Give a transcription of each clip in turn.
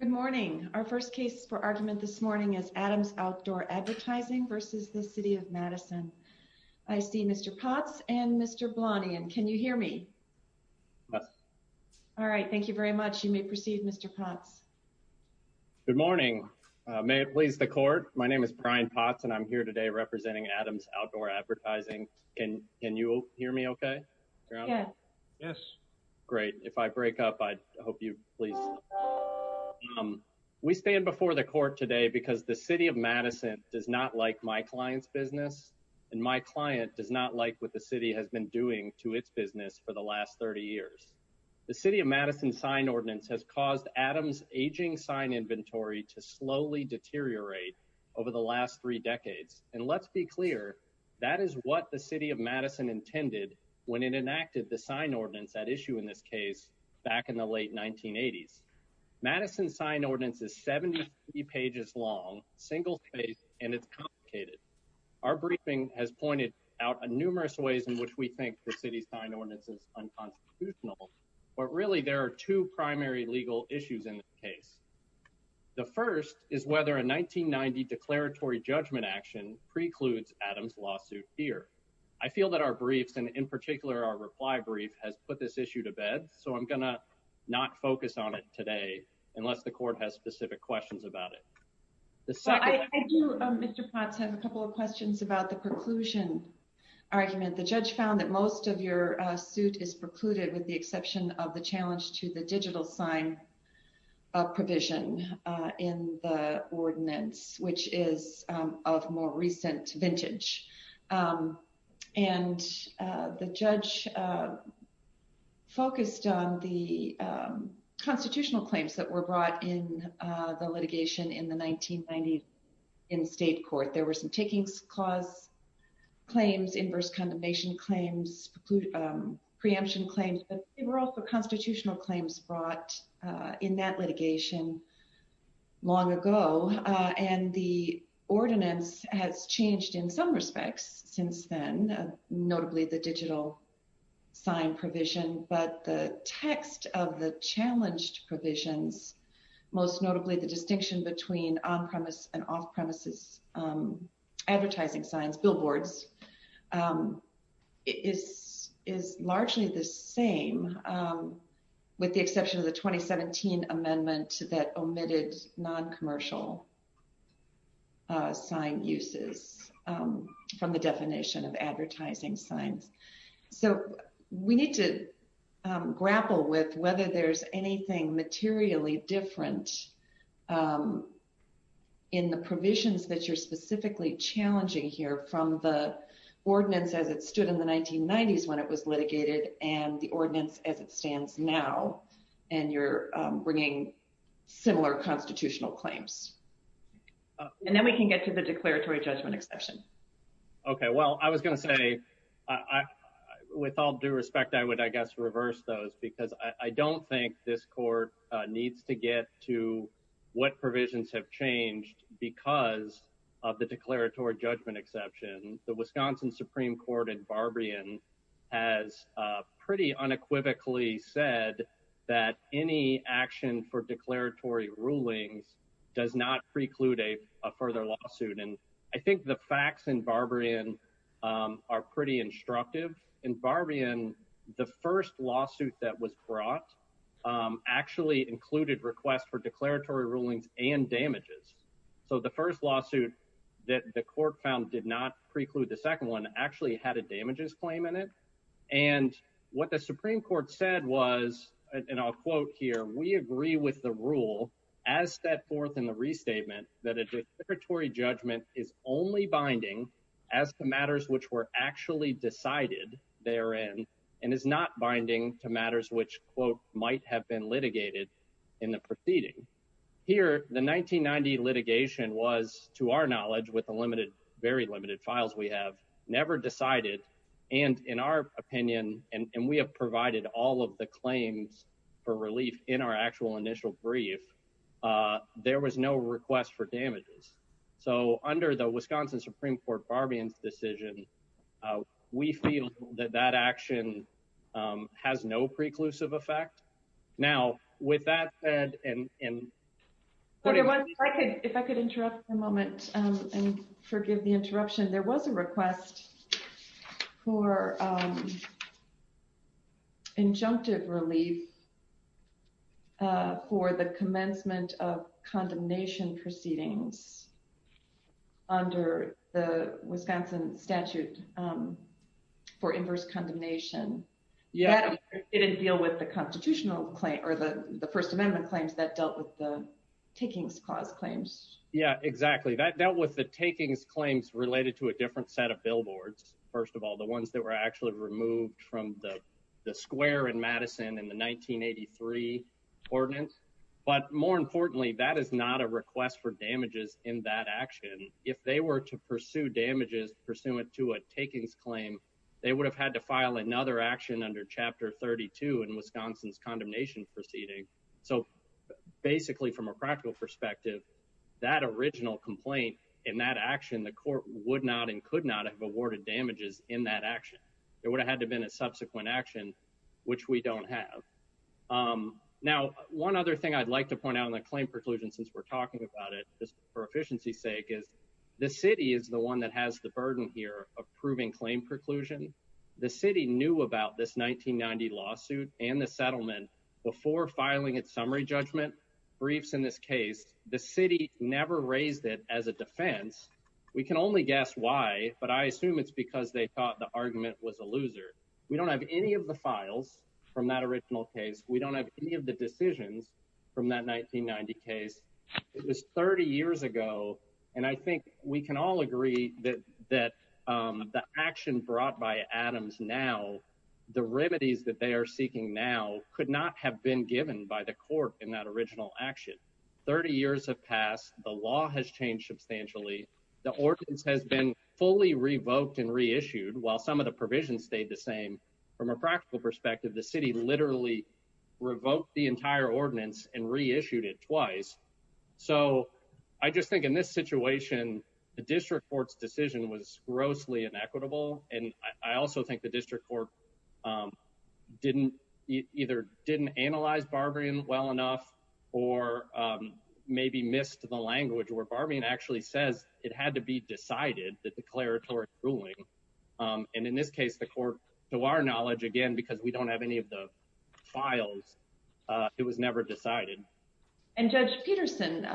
Good morning. Our first case for argument this morning is Adams Outdoor Advertising versus the City of Madison. I see Mr. Potts and Mr. Blanian. Can you hear me? All right. Thank you very much. You may proceed, Mr. Potts. Good morning. May it please the court. My name is Brian Potts and I'm here today representing Adams Outdoor Advertising. Can you hear me okay? Yes. Great. If I break up, I hope you please We stand before the court today because the City of Madison does not like my client's business and my client does not like what the City has been doing to its business for the last 30 years. The City of Madison sign ordinance has caused Adams aging sign inventory to slowly deteriorate over the last three decades. And let's be clear, that is what the City of Madison intended when it enacted the sign ordinance at issue in this case back in the late 1980s. Madison sign ordinance is 70 pages long, single-spaced, and it's complicated. Our briefing has pointed out numerous ways in which we think the City's sign ordinance is unconstitutional, but really there are two primary legal issues in this case. The first is whether a 1990 declaratory judgment action precludes Adams' lawsuit here. I feel that our briefs, and in particular our unless the court has specific questions about it. I do, Mr. Potts, have a couple of questions about the preclusion argument. The judge found that most of your suit is precluded with the exception of the challenge to the digital sign provision in the ordinance, which is of more recent vintage. And the judge focused on the constitutional claims that were brought in the litigation in the 1990s in state court. There were some takings clause claims, inverse condemnation claims, preemption claims, but they were also constitutional claims brought in that litigation long ago. And the ordinance has changed in some respects since then, notably the digital sign provision, but the text of the challenged provisions, most notably the distinction between on-premise and off-premises advertising signs, billboards, is largely the same with the exception of the 2017 amendment that omitted non-commercial sign uses from the definition of advertising signs. So we need to grapple with whether there's anything materially different in the provisions that you're specifically challenging here from the ordinance as it stood in the 1990s when it was litigated and the ordinance as it stands now, and you're bringing similar constitutional claims. And then we can get to the declaratory judgment exception. Okay. Well, I was going to say, with all due respect, I would, I guess, reverse those because I don't think this court needs to get to what provisions have changed because of the Wisconsin Supreme Court in Barbarian has pretty unequivocally said that any action for declaratory rulings does not preclude a further lawsuit. And I think the facts in Barbarian are pretty instructive. In Barbarian, the first lawsuit that was brought actually included requests for actually had a damages claim in it. And what the Supreme Court said was, and I'll quote here, we agree with the rule as set forth in the restatement that a declaratory judgment is only binding as to matters which were actually decided therein and is not binding to matters which quote might have been litigated in the proceeding. Here, the 1990 litigation was, to our knowledge, with a limited, very limited files, we have never decided. And in our opinion, and we have provided all of the claims for relief in our actual initial brief, there was no request for damages. So under the Wisconsin Supreme Court Barbarian's decision, we feel that that action has no preclusive effect. Now, with that said, and- If I could interrupt for a moment and forgive the interruption, there was a request for injunctive relief for the commencement of condemnation proceedings under the Wisconsin statute for inverse condemnation. Yeah. That didn't deal with the constitutional claim or the First Amendment claims that dealt with the Takings Clause claims. Yeah, exactly. That dealt with the Takings Claims related to a different set of billboards. First of all, the ones that were actually removed from the square in Madison in the 1983 ordinance. But more importantly, that is not a request for damages in that action. If they were to pursue damages pursuant to a Takings Claim, they would have had to file another action under Chapter 32 in Wisconsin's condemnation proceeding. So basically, from a practical perspective, that original complaint in that action, the court would not and could not have awarded damages in that action. It would have had to have been a subsequent action, which we don't have. Now, one other thing I'd like to point out on the claim preclusion since we're talking about it, just for efficiency's sake, is the city is the one that has the burden here of proving claim preclusion. The city knew about this 1990 lawsuit and the settlement before filing its summary judgment briefs in this case. The city never raised it as a defense. We can only guess why, but I assume it's because they thought the argument was a loser. We don't have any of the files from that original case. We don't have any of the decisions from that 1990 case. It was 30 years ago, and I think we can all agree that the action brought by Adams now, the remedies that they are seeking now could not have been given by the court in that original action. 30 years have passed. The law has changed substantially. The ordinance has been fully revoked and reissued while some of the provisions stayed the same. From a practical perspective, the city literally revoked the entire ordinance and reissued it twice. So I just think in this situation, the district court's decision was grossly inequitable, and I also think the district court either didn't analyze Barbarian well enough or maybe missed the language where Barbarian actually says it had to be decided, the declaratory ruling, and in this case, to our knowledge, again, because we don't have any of the files, it was never decided. And Judge Peterson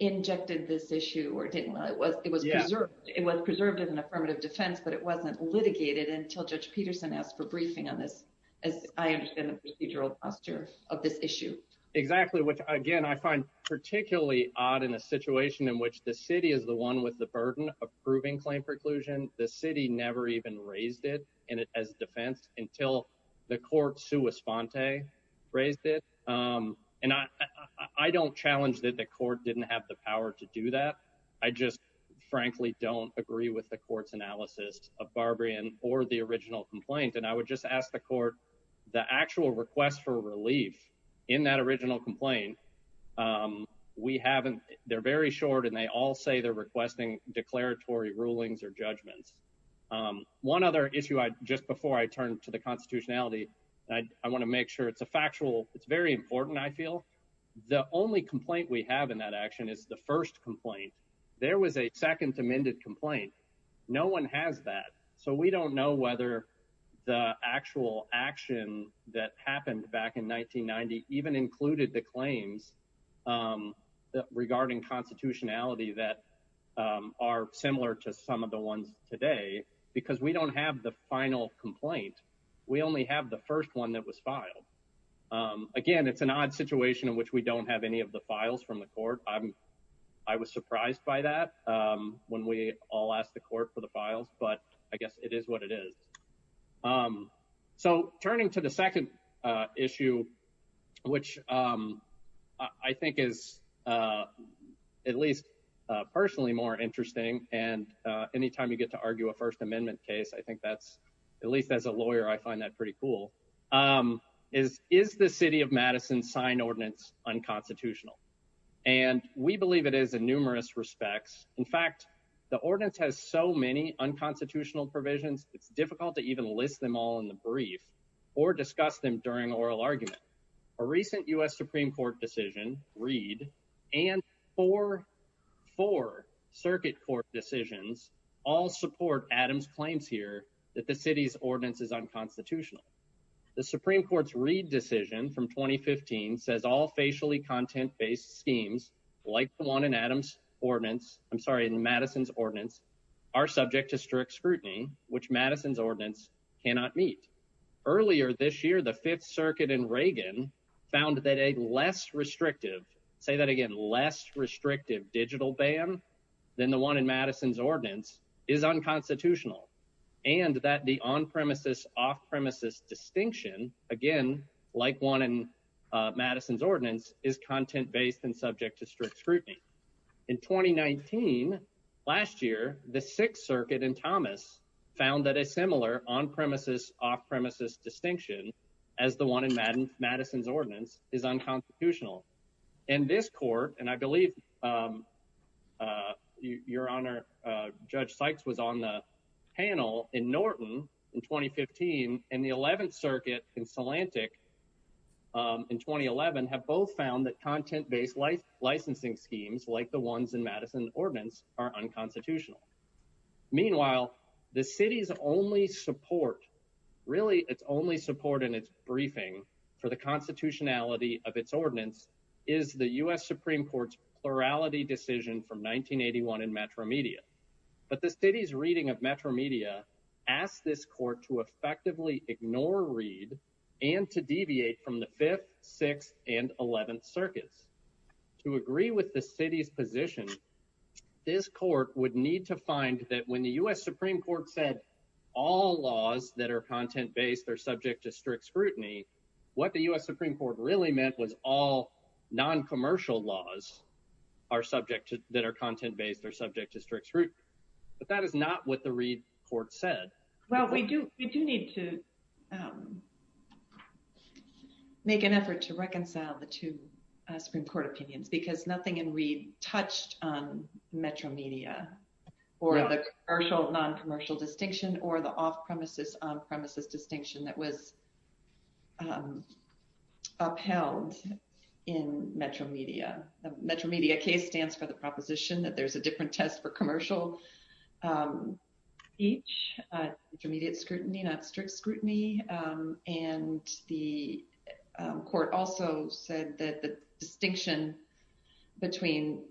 injected this issue or didn't. It was preserved as an affirmative defense, but it wasn't litigated until Judge Peterson asked for briefing on this, as I understand the procedural posture of this issue. Exactly, which again I find particularly odd in a situation in which the city is the one with the burden of proving claim preclusion. The city never even raised it as defense until the court sua sponte raised it. And I don't challenge that the court didn't have the power to do that. I just frankly don't agree with the court's analysis of Barbarian or the original complaint. And I would just ask the court, the actual request for relief in that original complaint, we haven't, they're very short and they all say they're requesting declaratory rulings or judgments. One other issue, just before I turn to the constitutionality, I want to make sure it's a factual, it's very important, I feel. The only complaint we have in that action is the first complaint. There was a second amended complaint. No one has that. So we don't know whether the actual action that happened back in 1990 even included the claims regarding constitutionality that are similar to some of the ones today, because we don't have the final complaint. We only have the first one that was filed. Again, it's an odd situation in which we don't have any of the files from the court. I was surprised by that when we all asked the court for the files, but I guess it is what it is. So turning to the second issue, which I think is at least personally more interesting, and anytime you get to argue a first amendment case, I think that's, at least as a lawyer, I find that pretty cool, is the city of Madison signed ordinance unconstitutional? And we believe it is in numerous respects. In fact, the ordinance has so many unconstitutional provisions, it's difficult to even list them all in the brief or discuss them during oral argument. A recent U.S. Supreme Court decision, Reed, and four circuit court decisions all support Adams' claims here that the city's ordinance is unconstitutional. The Supreme Court's Reed decision from 2015 says all facially content-based schemes like the one in Adams' ordinance, I'm sorry, in Madison's ordinance, are subject to strict scrutiny, which Madison's ordinance cannot meet. Earlier this year, the Fifth Circuit and Reagan found that a less restrictive, say that again, less restrictive digital ban than the one in Madison's ordinance is unconstitutional, and that the on-premises, off-premises distinction, again, like one in Madison's ordinance, is content-based and subject to strict scrutiny. In 2019, last year, the Sixth Circuit and Thomas found that a similar on-premises, off-premises distinction as the one in Madison's ordinance is unconstitutional. In this court, and I believe your Honor, Judge Sykes was on the panel in Norton in 2015, and the Eleventh Circuit in Salantic in 2011 have both found that content-based licensing schemes like the ones in Madison's ordinance are unconstitutional. Meanwhile, the city's only support, really its only support in briefing for the constitutionality of its ordinance is the U.S. Supreme Court's plurality decision from 1981 in Metromedia. But the city's reading of Metromedia asks this court to effectively ignore read and to deviate from the Fifth, Sixth, and Eleventh Circuits. To agree with the city's position, this court would need to find that when the U.S. Supreme Court said all laws that are subject to strict scrutiny, what the U.S. Supreme Court really meant was all non-commercial laws are subject to, that are content-based, are subject to strict scrutiny. But that is not what the Reed court said. Well, we do need to make an effort to reconcile the two Supreme Court opinions because nothing in Reed touched on Metromedia or the commercial, non-commercial distinction or the off-premises, on-premises distinction that was upheld in Metromedia. The Metromedia case stands for the proposition that there's a different test for commercial each, intermediate scrutiny, not strict scrutiny. And the court also said that the distinction between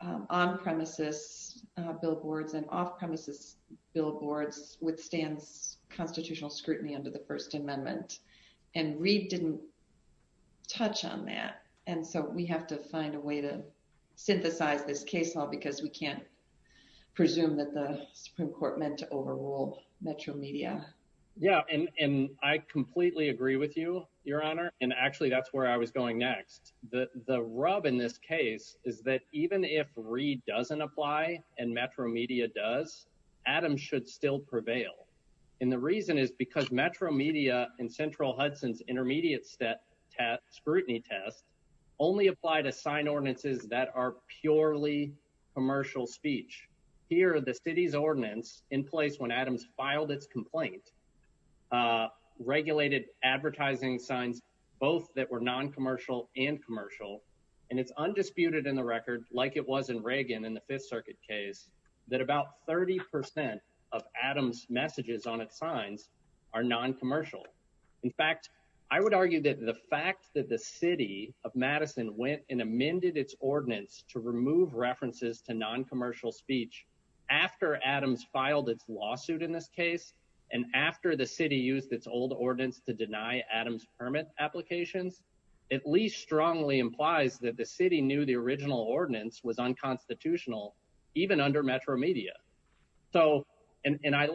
on-premises billboards and off-premises billboards withstands constitutional scrutiny under the First Amendment. And Reed didn't touch on that. And so we have to find a way to synthesize this case law because we can't presume that the Supreme Court meant to overrule Metromedia. Yeah, and I completely agree with you, Your Honor. And actually that's where I was going next. The rub in this case is that even if Reed doesn't apply and Metromedia does, Adams should still prevail. And the reason is because Metromedia and Central Hudson's intermediate scrutiny test only apply to sign ordinances that are purely commercial speech. Here are the city's ordinance in place when Adams filed its complaint, regulated advertising signs, both that were non-commercial and commercial. And it's in the Fifth Circuit case that about 30% of Adams' messages on its signs are non-commercial. In fact, I would argue that the fact that the city of Madison went and amended its ordinance to remove references to non-commercial speech after Adams filed its lawsuit in this case, and after the city used its old ordinance to deny Adams' permit applications, at least strongly implies that the city knew the original ordinance was unconstitutional, even under Metromedia. So, and I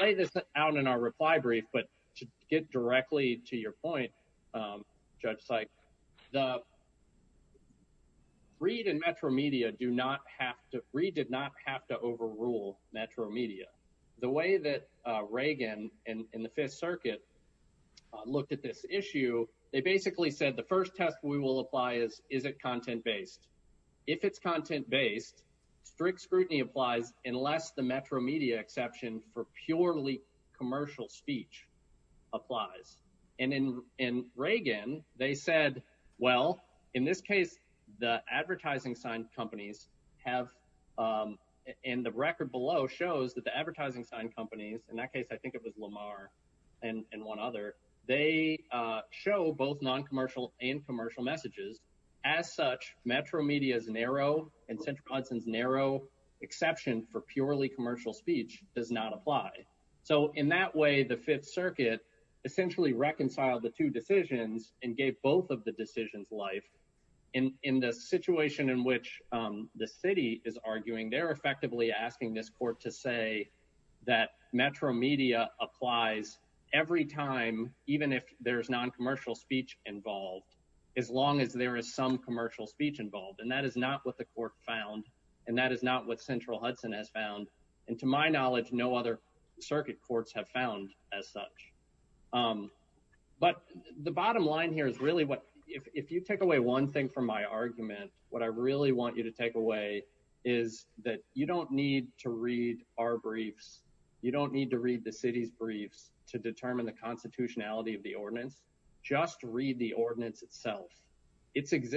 lay this out in our reply brief, but to get directly to your point, Judge Sykes, Reed and Metromedia do not have to, Reed did not have to overrule Metromedia. The way that will apply is, is it content-based? If it's content-based, strict scrutiny applies unless the Metromedia exception for purely commercial speech applies. And in Reagan, they said, well, in this case, the advertising sign companies have, and the record below shows that the advertising sign companies, in that case, I think it was Lamar and one other, they show both non-commercial and commercial messages. As such, Metromedia's narrow and Central Hudson's narrow exception for purely commercial speech does not apply. So in that way, the Fifth Circuit essentially reconciled the two decisions and gave both of the decisions life. In the situation in which the city is arguing, they're effectively asking this court to say that Metromedia applies every time, even if there's non-commercial speech involved, as long as there is some commercial speech involved. And that is not what the court found. And that is not what Central Hudson has found. And to my knowledge, no other circuit courts have found as such. But the bottom line here is really what, if you take away one thing from my argument, what I really want you to take away is that you don't need to read our briefs. You don't need to read the city's briefs to determine the constitutionality of the ordinance. Just read the ordinance itself.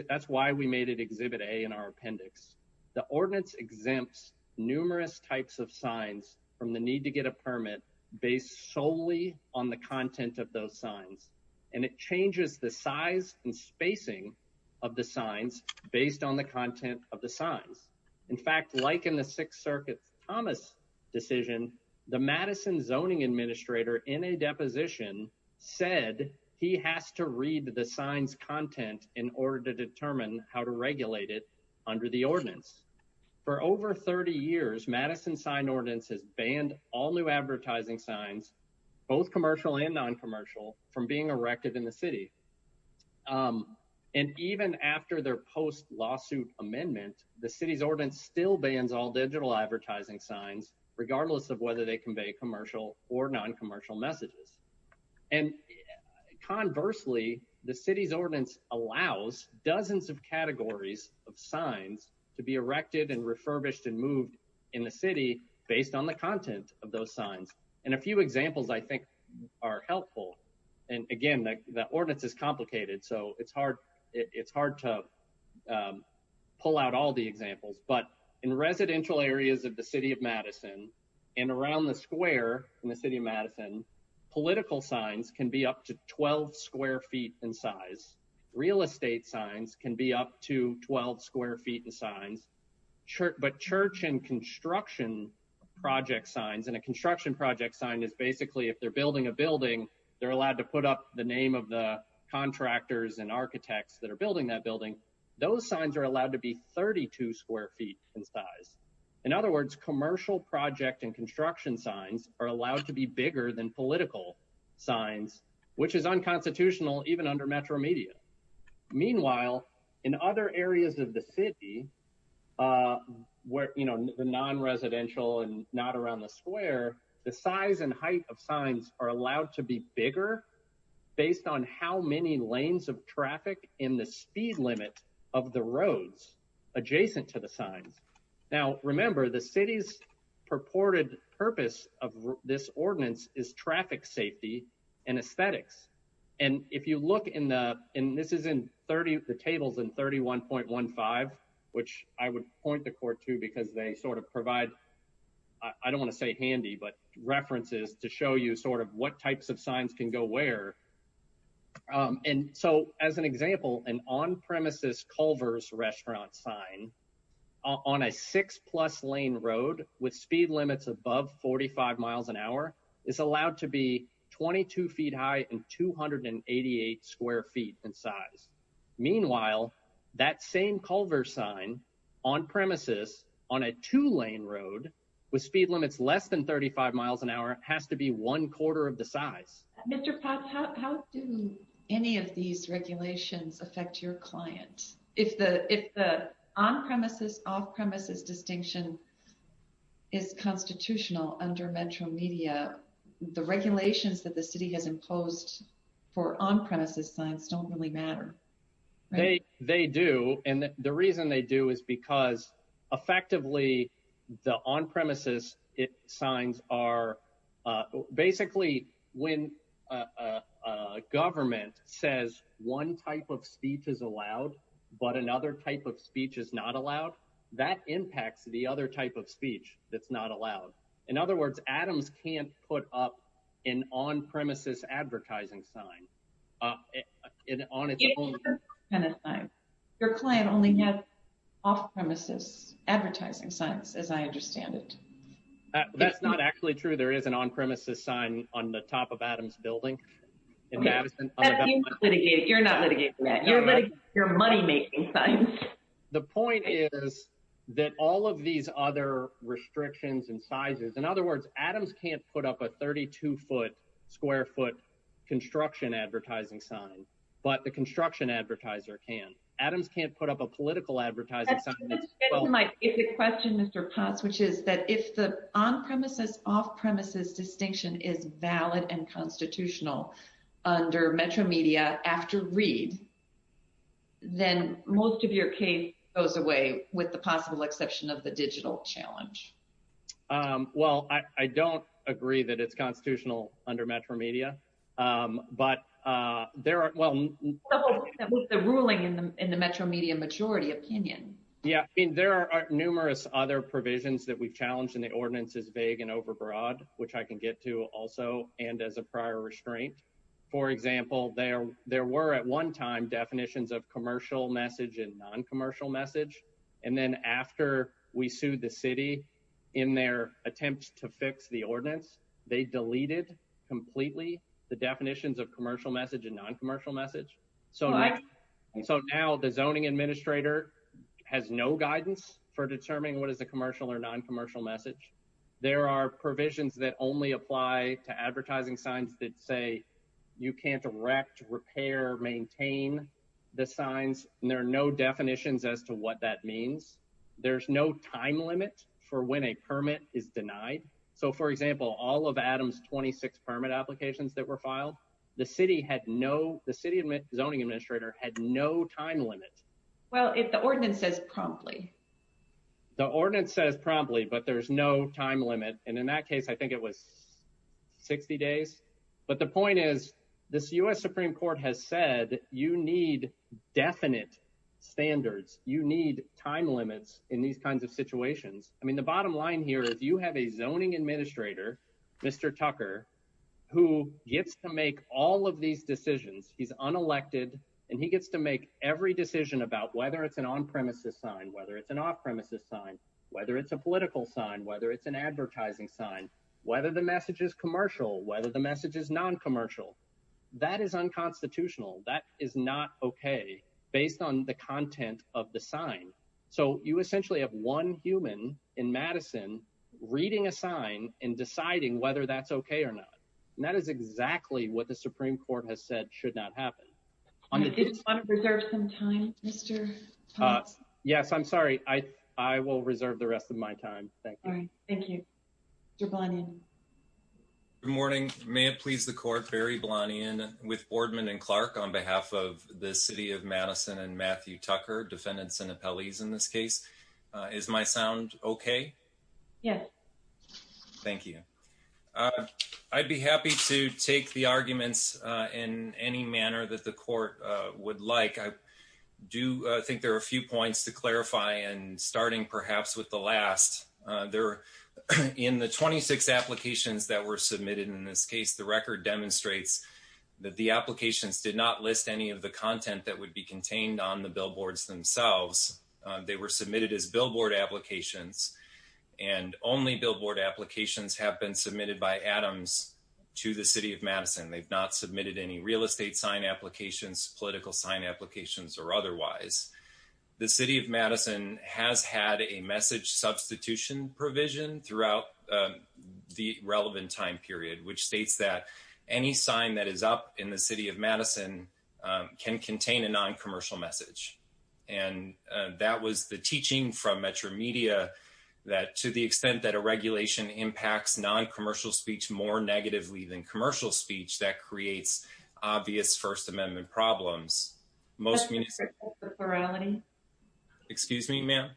That's why we made it Exhibit A in our appendix. The ordinance exempts numerous types of signs from the need to get a permit based solely on the content of those signs. And it changes the size and spacing of the signs based on the content of the signs. In fact, like in the Sixth Circuit's Thomas decision, the Madison zoning administrator in a deposition said he has to read the signs content in order to determine how to regulate it under the ordinance. For over 30 years, Madison's sign ordinance has banned all new advertising signs, both commercial and non-commercial, from being erected in the city. And even after their post-lawsuit amendment, the city's ordinance still bans all digital advertising signs, regardless of whether they convey commercial or non-commercial messages. And conversely, the city's ordinance allows dozens of categories of signs to be erected and refurbished and moved in the city based on the content of those signs. And a few examples, I think, are helpful. And again, the ordinance is complicated, so it's hard to pull out all the examples. But in residential areas of the city of Madison and around the square in the city of Madison, political signs can be up to 12 square feet in size. Real estate signs can be up to 12 square feet in size. But church and construction project signs, and a construction project sign is basically if they're building a building, they're allowed to put up the name of the contractors and the name of the contractor, and the contractor is allowed to be up to 12 square feet in size. In other words, commercial project and construction signs are allowed to be bigger than political signs, which is unconstitutional even under metro media. Meanwhile, in other areas of the city, where, you know, the non-residential and not around the square, the size and height of signs are allowed to be bigger based on how many lanes of traffic in the speed limit of the roads adjacent to the signs. Now, remember, the city's purported purpose of this ordinance is traffic safety and aesthetics. And if you look in the, and this is in the tables in 31.15, which I would point the court to because they sort of provide, I don't want to say handy, but references to show you sort of what types of signs can go where. And so as an example, an on-premises Culver's restaurant sign on a six plus lane road with speed limits above 45 miles an hour is allowed to be 22 feet high and 288 square feet in size. Meanwhile, that same Culver sign on-premises on a two lane road with speed limits, less than 35 miles an hour has to be one quarter of the size. How do any of these regulations affect your client? If the, if the on-premises off-premises distinction is constitutional under metro media, the regulations that the city has imposed for on-premises signs don't really matter. They, they do. And the reason they do is because effectively the on-premises signs are basically when a government says one type of speech is allowed, but another type of speech is not allowed, that impacts the other type of speech that's not allowed. In other words, Adams can't put up an on-premises advertising sign on its own. Your client only has off-premises advertising signs, as I understand it. That's not actually true. There is an on-premises sign on the top of Adams building. You're not litigating that. You're litigating your money-making signs. The point is that all of these other restrictions and sizes, in other words, Adams can't put up a 32 foot square foot construction advertising sign, but the construction advertiser can. Adams can't put up a political advertising sign. That's the question, Mr. Potts, which is that if the on-premises off-premises distinction is not met, the case goes away, with the possible exception of the digital challenge. Well, I don't agree that it's constitutional under Metro Media, but there are, well... The ruling in the Metro Media majority opinion. Yeah. I mean, there are numerous other provisions that we've challenged and the ordinance is vague and overbroad, which I can get to also, and as a prior restraint. For example, there, there were at one time definitions of commercial message and non-commercial message. And then after we sued the city in their attempts to fix the ordinance, they deleted completely the definitions of commercial message and non-commercial message. So now the zoning administrator has no guidance for determining what is the commercial or non-commercial message. There are provisions that only apply to advertising signs that say, you can't erect, repair, maintain the signs. And there are no definitions as to what that means. There's no time limit for when a permit is denied. So for example, all of Adam's 26 permit applications that were filed, the city had no, the city zoning administrator had no time limit. Well, if the ordinance says promptly. The ordinance says promptly, but there's no time limit. And in that case, I think it was 60 days. But the point is this U.S. Supreme court has said that you need definite standards. You need time limits in these kinds of situations. I mean, the bottom line here is you have a zoning administrator, Mr. Tucker, who gets to make all of these decisions. He's unelected and he gets to make every decision about whether it's an on-premises sign, whether it's an off-premises sign, whether it's a political sign, whether it's an advertising sign, whether the message is commercial, whether the message is non-commercial. That is unconstitutional. That is not okay based on the content of the sign. So you essentially have one human in Madison reading a sign and deciding whether that's okay or not. And that is exactly what the Supreme court has said should not happen. I just want to reserve some time, Mr. Yes, I'm sorry. I will reserve the rest of my time. Thank you. All right. Thank you. Mr. Blanion. Good morning. May it please the court, Barry Blanion with Boardman and Clark on behalf of the city of Madison and Matthew Tucker, defendants and appellees in this case. Is my sound okay? Yes. Thank you. I'd be happy to take the arguments in any manner that the court would like. I do think there are a few points to clarify and starting perhaps with the last there in the 26 applications that were submitted in this case, the record demonstrates that the applications did not list any of the content that would be contained on the billboards themselves. They were submitted as billboard applications and only billboard applications have been submitted by Adams to the city of Madison. They've not submitted any real estate sign applications, political sign applications or otherwise. The city of Madison has had a message substitution provision throughout the relevant time period, which states that any sign that is up in the city of Madison can contain a non-commercial message. And that was the teaching from Metro Media that to the extent that a regulation impacts non-commercial speech more negatively than most. Excuse me, ma'am.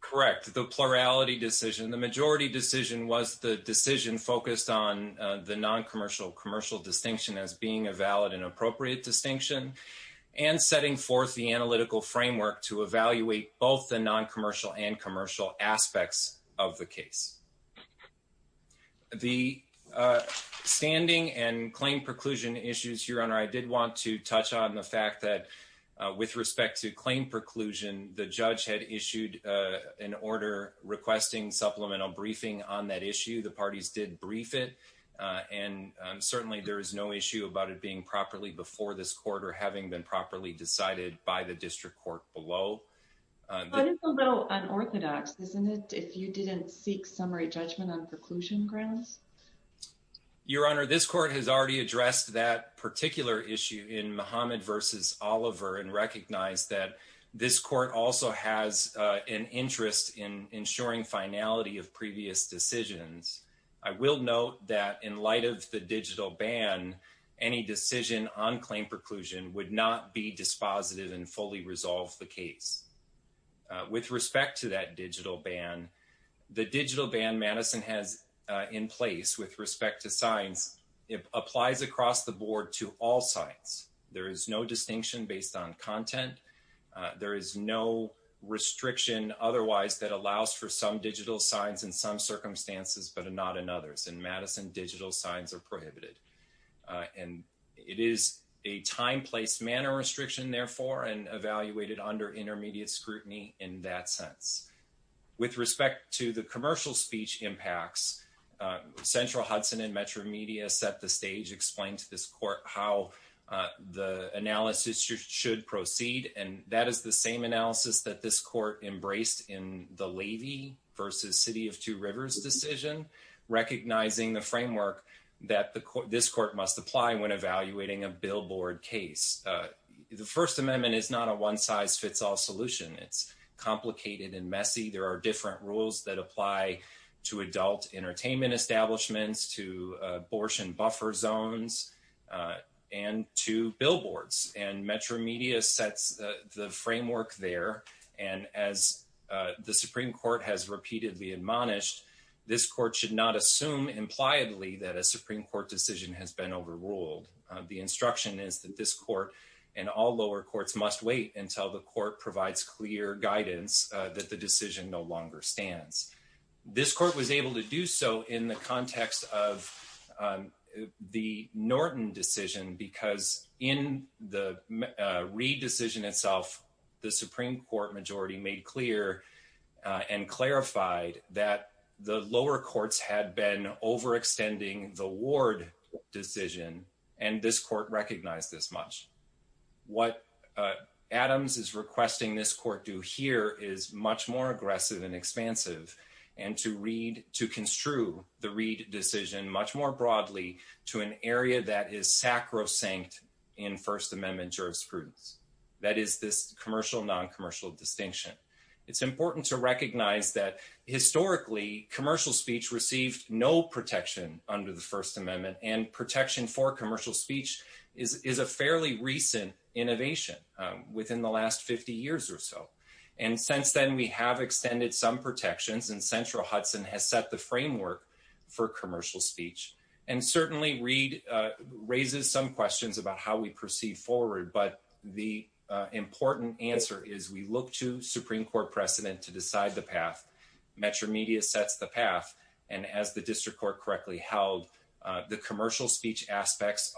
Correct. The plurality decision, the majority decision was the decision focused on the non-commercial commercial distinction as being a valid and appropriate distinction and setting forth the analytical framework to evaluate both the non-commercial and commercial aspects of the case. The standing and claim preclusion issues, Your Honor, I did want to touch on the fact that with respect to claim preclusion, the judge had issued an order requesting supplemental briefing on that issue. The parties did brief it and certainly there is no issue about it being properly before this court or having been properly decided by the district court below. It's a little unorthodox, isn't it, if you didn't seek summary judgment on preclusion grounds? Your Honor, this court has already addressed that particular issue in Muhammad versus Oliver and recognized that this court also has an interest in ensuring finality of previous decisions. I will note that in light of the digital ban, any decision on claim preclusion would not be dispositive and fully resolve the case. With respect to that digital ban, the digital ban Madison has in place with respect to signs, it applies across the board to all sites. There is no distinction based on content. There is no restriction otherwise that allows for some digital signs in some circumstances, but not in others. In Madison, digital signs are prohibited. It is a time-placed manner restriction, therefore, and evaluated under intermediate scrutiny in that sense. With respect to the commercial speech impacts, Central Hudson and Metro Media set the stage, explained to this court how the analysis should proceed, and that is the same analysis that this recognizing the framework that this court must apply when evaluating a billboard case. The First Amendment is not a one-size-fits-all solution. It is complicated and messy. There are different rules that apply to adult entertainment establishments, to abortion buffer zones, and to billboards. Metro Media sets the framework there, and as the Supreme Court has repeatedly admonished, this court should not assume impliedly that a Supreme Court decision has been overruled. The instruction is that this court and all lower courts must wait until the court provides clear guidance that the decision no longer stands. This court was able to do so in the context of the Norton decision because in the Reid decision itself, the Supreme Court majority made clear and clarified that the lower courts had been overextending the Ward decision, and this court recognized this much. What Adams is requesting this court do here is much more aggressive and expansive, and to construe the Reid decision much more broadly to an area that is sacrosanct in First Amendment jurisprudence, that is, this commercial-noncommercial distinction. It's important to recognize that historically, commercial speech received no protection under the First Amendment, and protection for commercial speech is a fairly recent innovation within the last 50 years or so. And since then, we have extended some protections, and Central Hudson has set the framework for commercial speech. And certainly, Reid raises some questions about how we proceed forward, but the important answer is we look to Supreme Court precedent to decide the path. Metro Media sets the path, and as the district court correctly held, the commercial speech aspects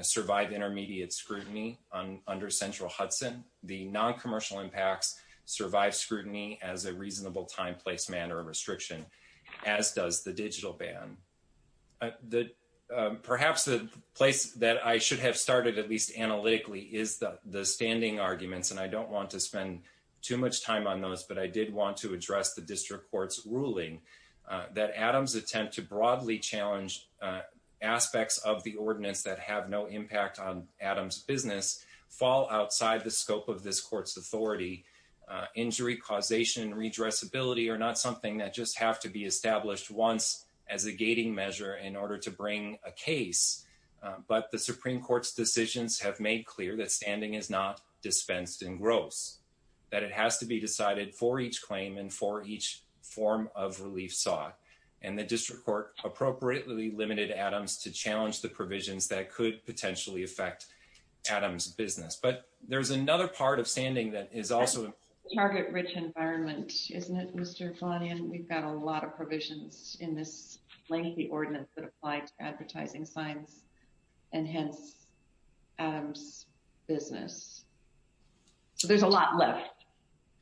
survive intermediate scrutiny under Central Hudson. The noncommercial impacts survive scrutiny as a reasonable time, place, manner of restriction, as does the digital ban. Perhaps the place that I should have started, at least analytically, is the standing arguments, and I don't want to spend too much time on those, but I did want to address the district court's ruling that Adams' attempt to broadly challenge aspects of the ordinance that have no impact on injury, causation, redressability, are not something that just have to be established once as a gating measure in order to bring a case, but the Supreme Court's decisions have made clear that standing is not dispensed in gross, that it has to be decided for each claim and for each form of relief sought, and the district court appropriately limited Adams to challenge the provisions that could potentially affect Adams' business. But there's another part standing that is also... Target-rich environment, isn't it, Mr. Flanagan? We've got a lot of provisions in this lengthy ordinance that apply to advertising signs, and hence, Adams' business. So there's a lot left.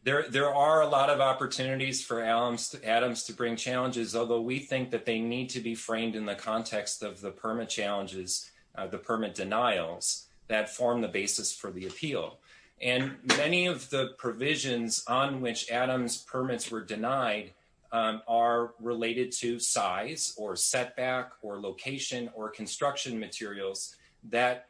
There are a lot of opportunities for Adams to bring challenges, although we think that they need to be framed in the context of the permit challenges, the permit denials that form the basis for the appeal. And many of the provisions on which Adams' permits were denied are related to size or setback or location or construction materials that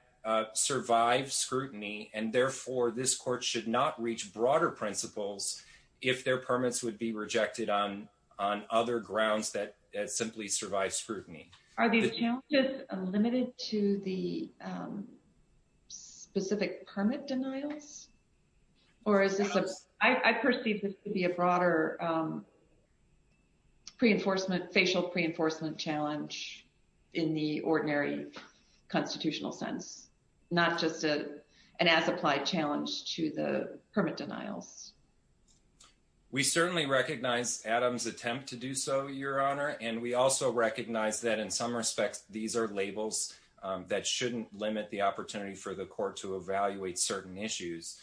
survive scrutiny, and therefore, this court should not reach broader principles if their permits would be rejected on other grounds that simply survive scrutiny. Are these challenges limited to the specific permit denials, or is this... I perceive this to be a broader pre-enforcement, facial pre-enforcement challenge in the ordinary constitutional sense, not just an as-applied challenge to the permit denials. We certainly recognize Adams' attempt to do so, Your Honor, and we also recognize that, in some respects, these are labels that shouldn't limit the opportunity for the court to evaluate certain issues.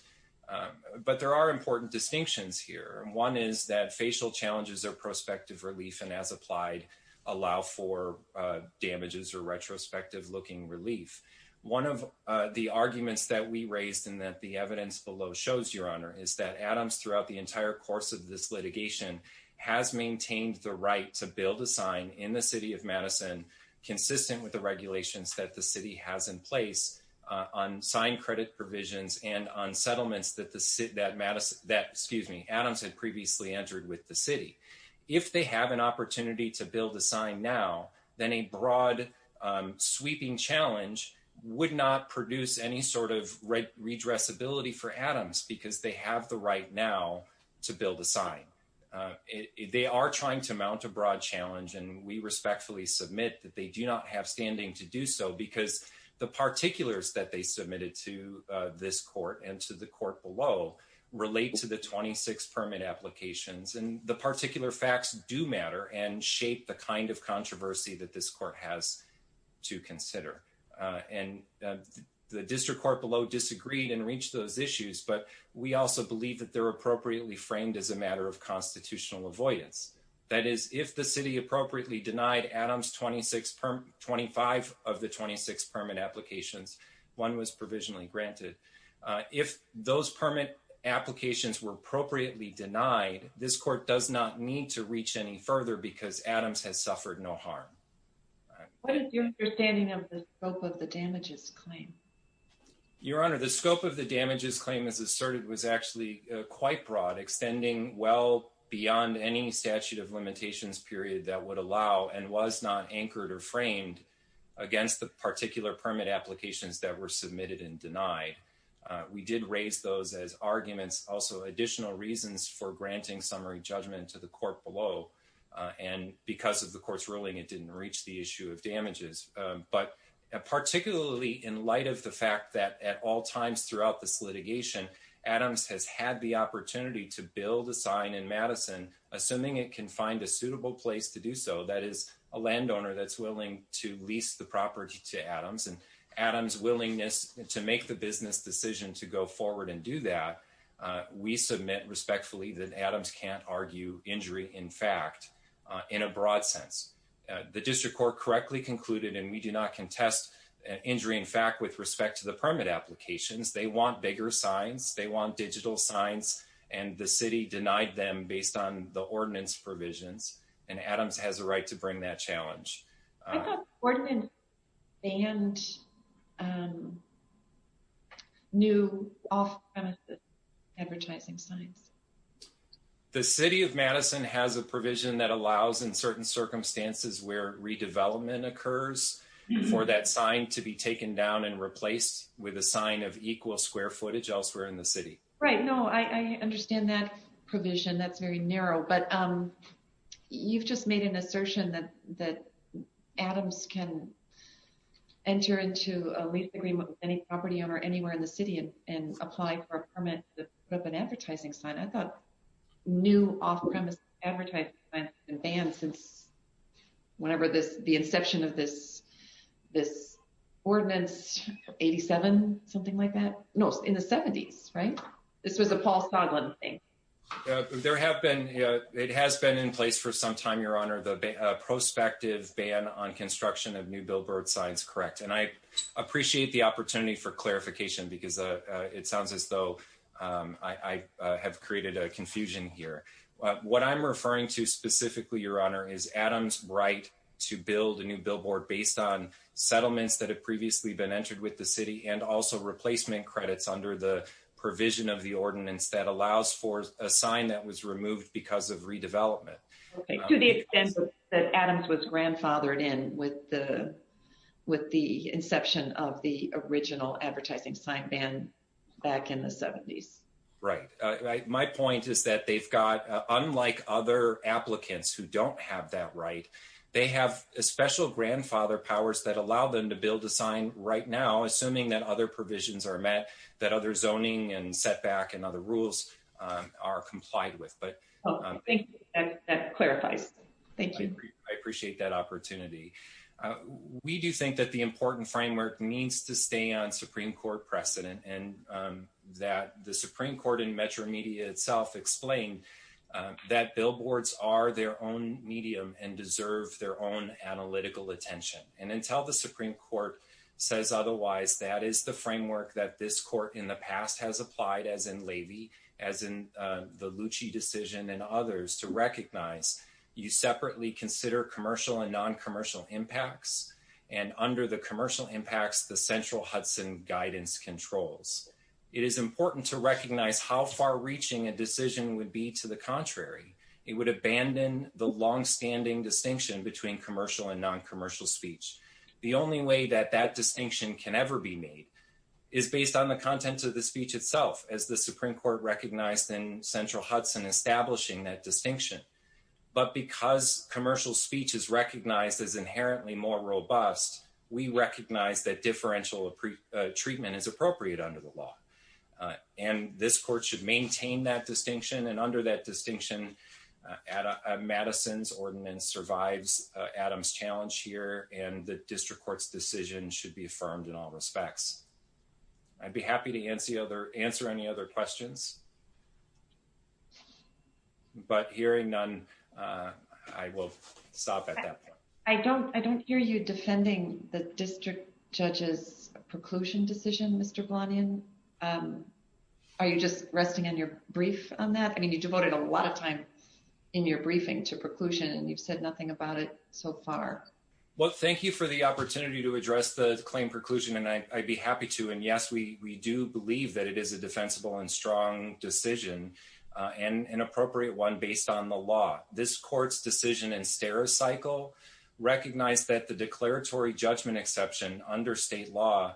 But there are important distinctions here. One is that facial challenges or prospective relief, and as applied, allow for damages or retrospective-looking relief. One of the arguments that we raised and that the evidence below shows, Your Honor, is that Adams, throughout the entire course of this litigation, has maintained the right to build a sign in the City of Madison consistent with the regulations that the City has in place on signed credit provisions and on settlements that Adams had previously entered with the City. If they have an opportunity to build a sign now, then a broad, sweeping challenge would not produce any sort of redressability for Adams because they have the right now to build a sign. They are trying to mount a broad challenge, and we respectfully submit that they do not have standing to do so because the particulars that they submitted to this court and to the court below relate to the 26 permit applications, and the particular facts do matter and shape the kind of controversy that this court has to consider. And the district court below disagreed and reached those issues, but we also believe that they're appropriately framed as a matter of constitutional avoidance. That is, if the City appropriately denied Adams 25 of the 26 permit applications, one was provisionally granted. If those permit applications were appropriately denied, this court does not need to reach any further because Adams has suffered no harm. What is your understanding of the scope of the damages claim? Your Honor, the scope of the damages claim, as asserted, was actually quite broad, extending well beyond any statute of limitations period that would allow and was not anchored or framed against the particular permit applications that were submitted and denied. We did raise those as arguments, also additional reasons for granting summary judgment to the court below, and because the court's ruling, it didn't reach the issue of damages. But particularly in light of the fact that at all times throughout this litigation, Adams has had the opportunity to build a sign in Madison, assuming it can find a suitable place to do so, that is, a landowner that's willing to lease the property to Adams, and Adams' willingness to make the business decision to go forward and do that, we submit respectfully that Adams can't argue injury in fact in a broad sense. The district court correctly concluded, and we do not contest injury in fact with respect to the permit applications, they want bigger signs, they want digital signs, and the city denied them based on the ordinance provisions, and Adams has a right to bring that challenge. I thought the ordinance banned new off-premises advertising signs. The city of Madison has a provision that allows in certain circumstances where redevelopment occurs for that sign to be taken down and replaced with a sign of equal square footage elsewhere in the city. Right, no, I understand that provision, that's very narrow, but you've just made an assertion that that Adams can enter into a lease agreement with any property owner anywhere in the city and apply for a permit to put up an advertising sign. I thought new off-premise advertising signs have been banned since whenever this, the inception of this ordinance, 87, something like that? No, in the 70s, right? This was a Paul Sondland thing. There have been, it has been in place for some time, your honor, the prospective ban on construction of new billboard signs, correct, and I it sounds as though I have created a confusion here. What I'm referring to specifically, your honor, is Adams' right to build a new billboard based on settlements that have previously been entered with the city and also replacement credits under the provision of the ordinance that allows for a sign that was removed because of redevelopment. Okay, to the extent that Adams was grandfathered in with the inception of the original advertising sign ban back in the 70s. Right, my point is that they've got, unlike other applicants who don't have that right, they have a special grandfather powers that allow them to build a sign right now, assuming that other provisions are met, that other zoning and setback and other rules are complied with, but. Thank you, that clarifies. Thank you. I appreciate that opportunity. We do think that the important framework needs to stay on Supreme Court precedent and that the Supreme Court in Metro Media itself explained that billboards are their own medium and deserve their own analytical attention and until the Supreme Court says otherwise, that is the framework that this court in the past has applied as in Levy, as in the Lucci decision and others to recognize you separately consider commercial and non-commercial impacts and under the commercial impacts, the central Hudson guidance controls. It is important to recognize how far reaching a decision would be to the contrary. It would abandon the long-standing distinction between commercial and non-commercial speech. The only way that that distinction can ever be made is based on the content of the speech itself, as the Supreme Court recognized in central Hudson establishing that distinction. But because commercial speech is recognized as inherently more robust, we recognize that differential treatment is appropriate under the law. And this court should maintain that distinction and under that distinction, Madison's ordinance survives Adam's challenge here and the district court's decision should be affirmed in all respects. I'd be happy to answer any other questions. But hearing none, I will stop at that point. I don't hear you defending the district judge's brief on that. I mean, you devoted a lot of time in your briefing to preclusion, and you've said nothing about it so far. Well, thank you for the opportunity to address the claim preclusion, and I'd be happy to. And yes, we do believe that it is a defensible and strong decision and an appropriate one based on the law. This court's decision and stare cycle recognize that the declaratory judgment exception under state law,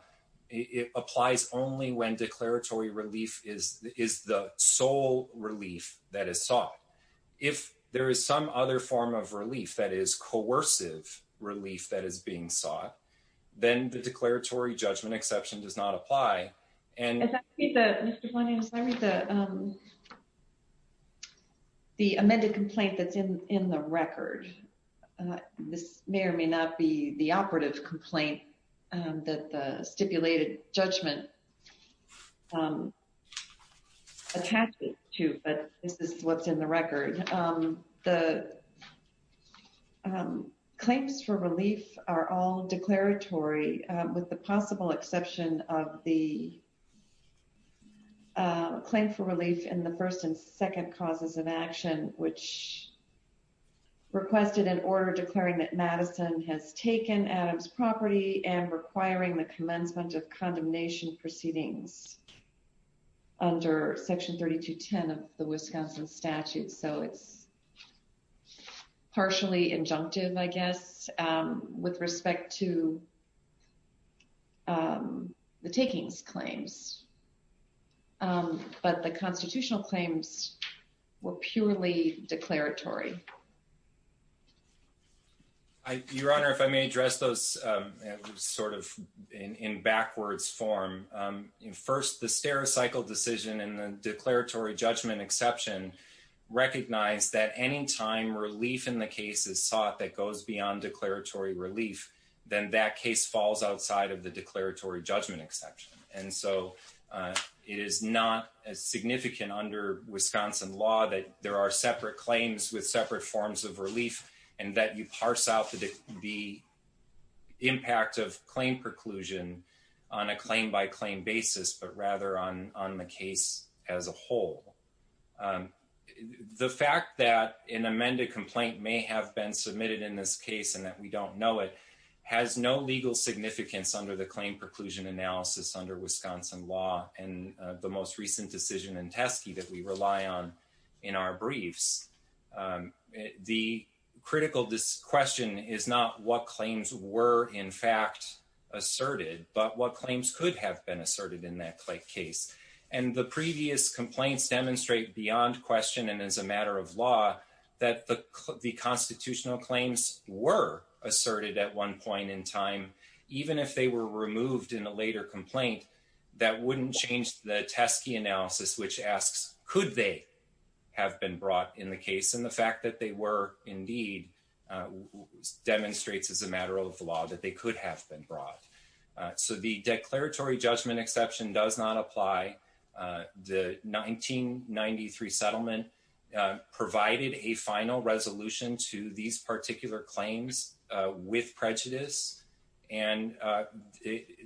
it applies only when declaratory relief is the sole relief that is sought. If there is some other form of relief that is coercive relief that is being sought, then the declaratory judgment exception does not apply. The amended complaint that's in the record, this may or may not be the operative complaint that the stipulated judgment attached it to, but this is what's in the record. The claims for relief are all declaratory, with the possible exception of the claim for relief in the first and second causes of action, which requested an order declaring that and requiring the commencement of condemnation proceedings under section 3210 of the Wisconsin statute. So it's partially injunctive, I guess, with respect to the takings claims. But the constitutional claims were purely declaratory. Your Honor, if I may address those sort of in backwards form. First, the stare cycle decision and the declaratory judgment exception recognize that any time relief in the case is sought that goes beyond declaratory relief, then that case falls outside of the declaratory judgment exception. And so it is not as significant under Wisconsin law that there are separate claims with separate forms of relief and that you parse out the impact of claim preclusion on a claim by claim basis, but rather on the case as a whole. The fact that an amended complaint may have been submitted in this case and that we don't know it has no legal significance under the claim preclusion analysis under Wisconsin law and the most recent decision in Teske that we rely on in our briefs. The critical question is not what claims were in fact asserted, but what claims could have been asserted in that case. And the previous complaints demonstrate beyond question and as a matter of law, that the constitutional claims were asserted at one point in time, even if they were removed in a later complaint, that wouldn't change the Teske analysis, which asks, could they have been brought in the case? And the fact that they were indeed demonstrates as a matter of law that they could have been brought. So the declaratory judgment exception does not apply. The 1993 settlement provided a final resolution to these particular claims with prejudice. And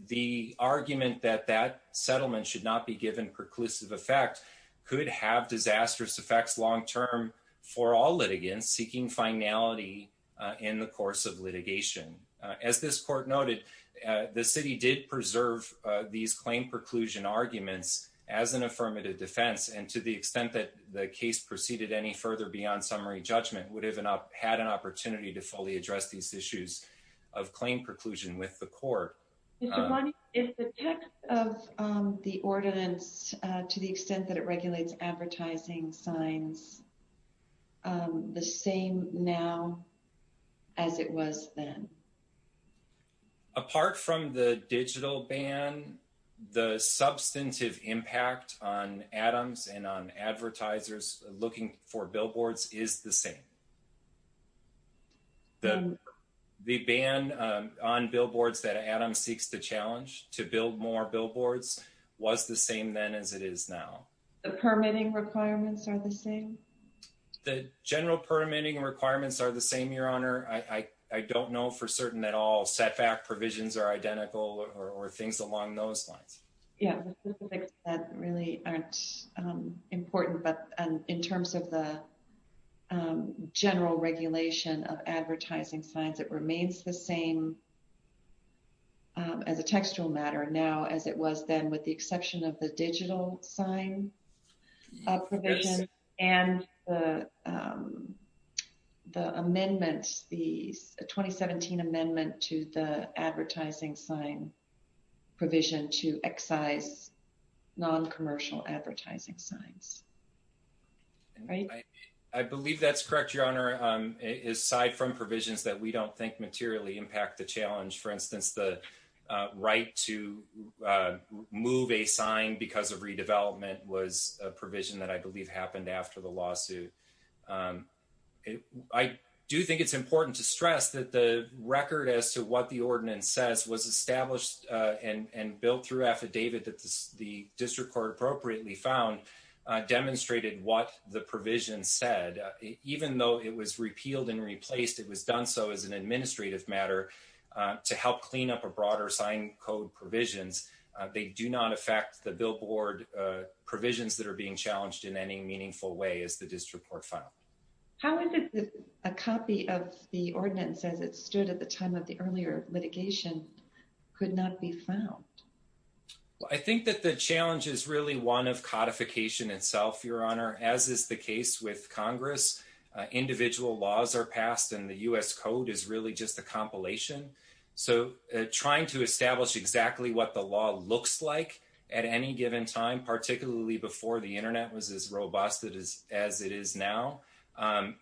the argument that that settlement should not be given preclusive effect could have disastrous effects long-term for all litigants seeking finality in the course of litigation. As this court noted, the city did preserve these claim preclusion arguments as an affirmative defense. And to the extent that the case proceeded any further beyond summary judgment would have had an opportunity to fully address these issues of claim preclusion with the court. Mr. Bonnie, is the text of the ordinance to the extent that it regulates advertising signs the same now as it was then? Apart from the digital ban, the substantive impact on Adams and on advertisers looking for billboards is the same. The ban on billboards that Adams seeks to challenge to build more billboards was the same then as it is now. The permitting requirements are the same? The general permitting requirements are the same, Your Honor. I don't know for certain that all setback provisions are identical or things along those lines. Yeah, the specifics of that really aren't important. But in terms of the general regulation of advertising signs, it remains the same as a textual matter now as it was then with the exception of the digital sign provision and the the 2017 amendment to the advertising sign provision to excise non-commercial advertising signs. I believe that's correct, Your Honor. Aside from provisions that we don't think materially impact the challenge, for instance, the right to move a sign because of redevelopment was a provision that I believe happened after the lawsuit. I do think it's important to stress that the record as to what the ordinance says was established and built through affidavit that the district court appropriately found demonstrated what the provision said. Even though it was repealed and replaced, it was done so as an administrative matter to help clean up a broader sign code provisions. They do not affect the billboard provisions that are being challenged in any meaningful way as the district court found. How is it that a copy of the ordinance as it stood at the time of the earlier litigation could not be found? Well, I think that the challenge is really one of codification itself, Your Honor, as is the case with Congress. Individual laws are passed and the U.S. code is really just a compilation. So trying to establish exactly what the law looks like at any given time, particularly before the internet was as robust as it is now,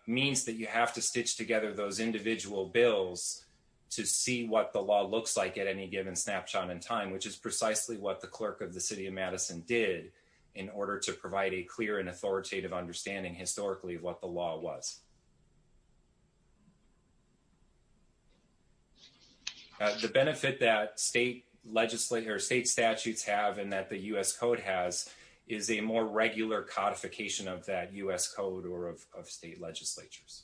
means that you have to stitch together those individual bills to see what the law looks like at any given snapshot in time, which is precisely what the clerk of the city of Madison did in order to provide a clear and authoritative understanding historically of what the law was. The benefit that state legislature or state statutes have and that the U.S. code has is a more regular codification of that U.S. code or of state legislatures.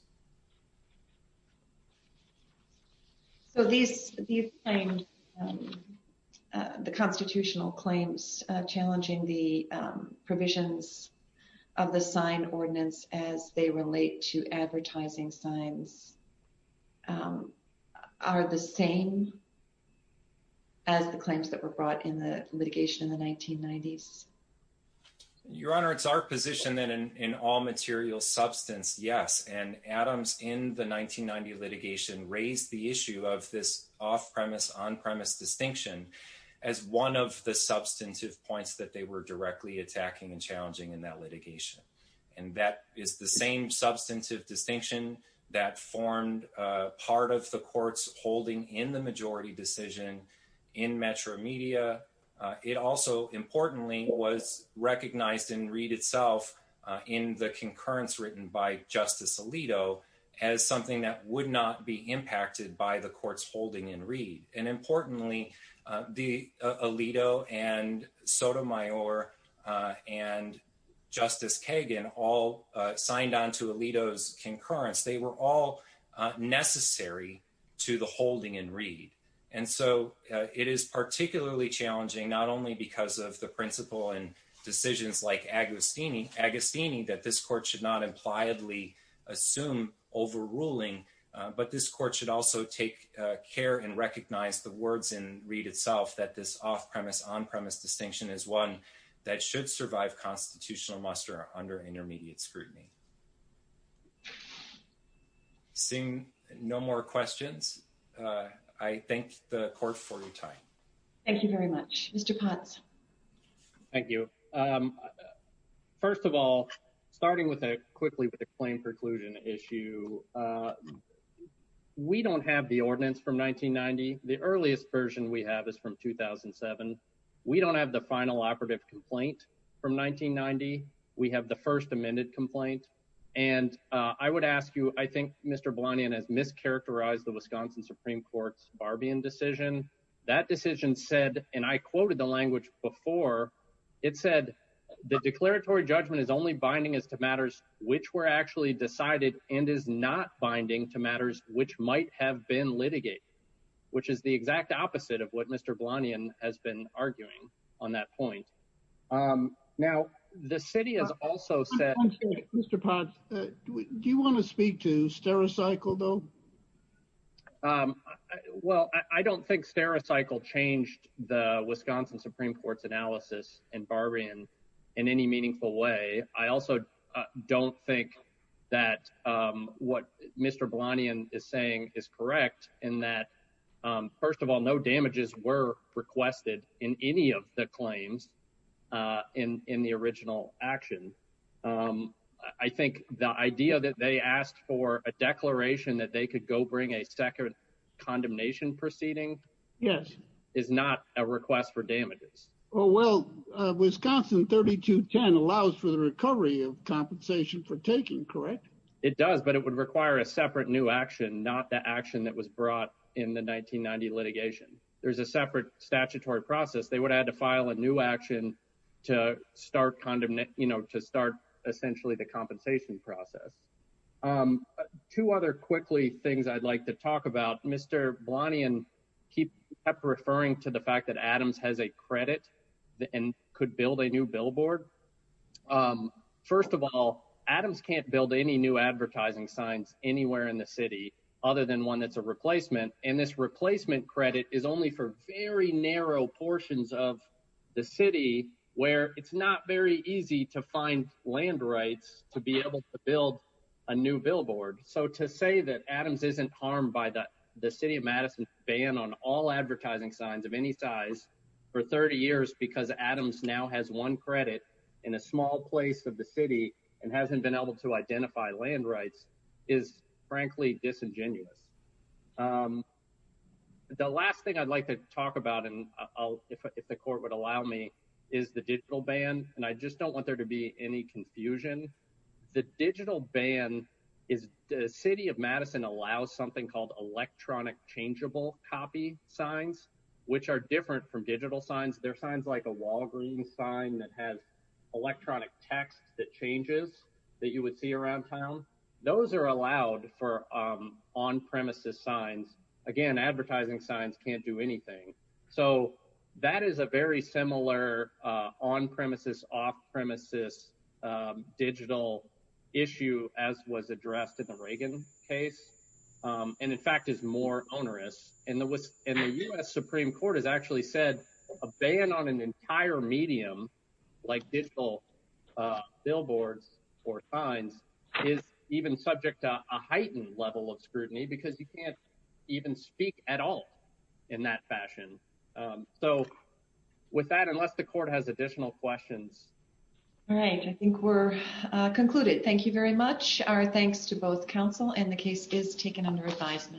So these, these claimed the constitutional claims challenging the provisions of the sign ordinance as they relate to advertising signs are the same as the claims that were brought in the litigation in the 1990s? Your Honor, it's our position that in all material substance, yes, and Adams in the 1990 litigation raised the issue of this off-premise on-premise distinction as one of the substantive points that they were directly attacking and challenging in that is the same substantive distinction that formed part of the court's holding in the majority decision in Metro Media. It also importantly was recognized in Reed itself in the concurrence written by Justice Alito as something that would not be impacted by the court's holding in Reed. And importantly, Alito and Sotomayor and Justice Kagan all signed on to Alito's concurrence. They were all necessary to the holding in Reed. And so it is particularly challenging not only because of the principle and decisions like Agostini that this court should not impliedly assume overruling, but this court should also take care and recognize the words in Reed itself that this off-premise on-premise distinction is one that should survive constitutional muster under intermediate scrutiny. Seeing no more questions, I thank the court for your time. Thank you very much. Mr. Potts. Thank you. First of all, starting with a quickly with a claim preclusion issue, we don't have the ordinance from 1990. The earliest version we have is from 2007. We don't have the final operative complaint from 1990. We have the first amended complaint. And I would ask you, I think Mr. Blanion has mischaracterized the Wisconsin Supreme Court's decision. That decision said, and I quoted the language before, it said the declaratory judgment is only binding as to matters which were actually decided and is not binding to matters which might have been litigated, which is the exact opposite of what Mr. Blanion has been arguing on that point. Now, the city has also said... Mr. Potts, do you want to speak to Stericycle though? Well, I don't think Stericycle changed the Wisconsin Supreme Court's analysis in Barbian in any meaningful way. I also don't think that what Mr. Blanion is saying is correct in that, first of all, no damages were requested in any of the claims in the original action. I think the idea that they asked for a declaration that they could go bring a second condemnation proceeding is not a request for damages. Well, Wisconsin 3210 allows for the recovery of compensation for taking, correct? It does, but it would require a separate new action, not the action that was brought in the 1990 litigation. There's a separate statutory process. They would have to file a new action to start essentially the compensation process. Two other quickly things I'd like to talk about, Mr. Blanion kept referring to the fact that Adams has a credit and could build a new billboard. First of all, Adams can't build any new advertising signs anywhere in the city other than one that's a replacement, and this replacement credit is only for very narrow portions of the city where it's not very easy to find land rights to be able to build a new billboard. So to say that Adams isn't harmed by the City of Madison ban on all advertising signs of any size for 30 years because Adams now has one credit in a small place of the city and hasn't been able to identify land rights is frankly disingenuous. The last thing I'd like to talk about, and if the court would allow me, is the digital ban, and I just don't want there to be any confusion. The digital ban is the City of Madison allows something called electronic changeable copy signs, which are different from digital signs. They're signs like a Walgreens sign that has electronic text that changes that you would around town. Those are allowed for on-premises signs. Again, advertising signs can't do anything, so that is a very similar on-premises, off-premises digital issue as was addressed in the Reagan case, and in fact is more onerous. The U.S. Supreme Court has actually said a ban on an is even subject to a heightened level of scrutiny because you can't even speak at all in that fashion. So with that, unless the court has additional questions. All right, I think we're concluded. Thank you very much. Our thanks to both counsel and the case is taken under advisement.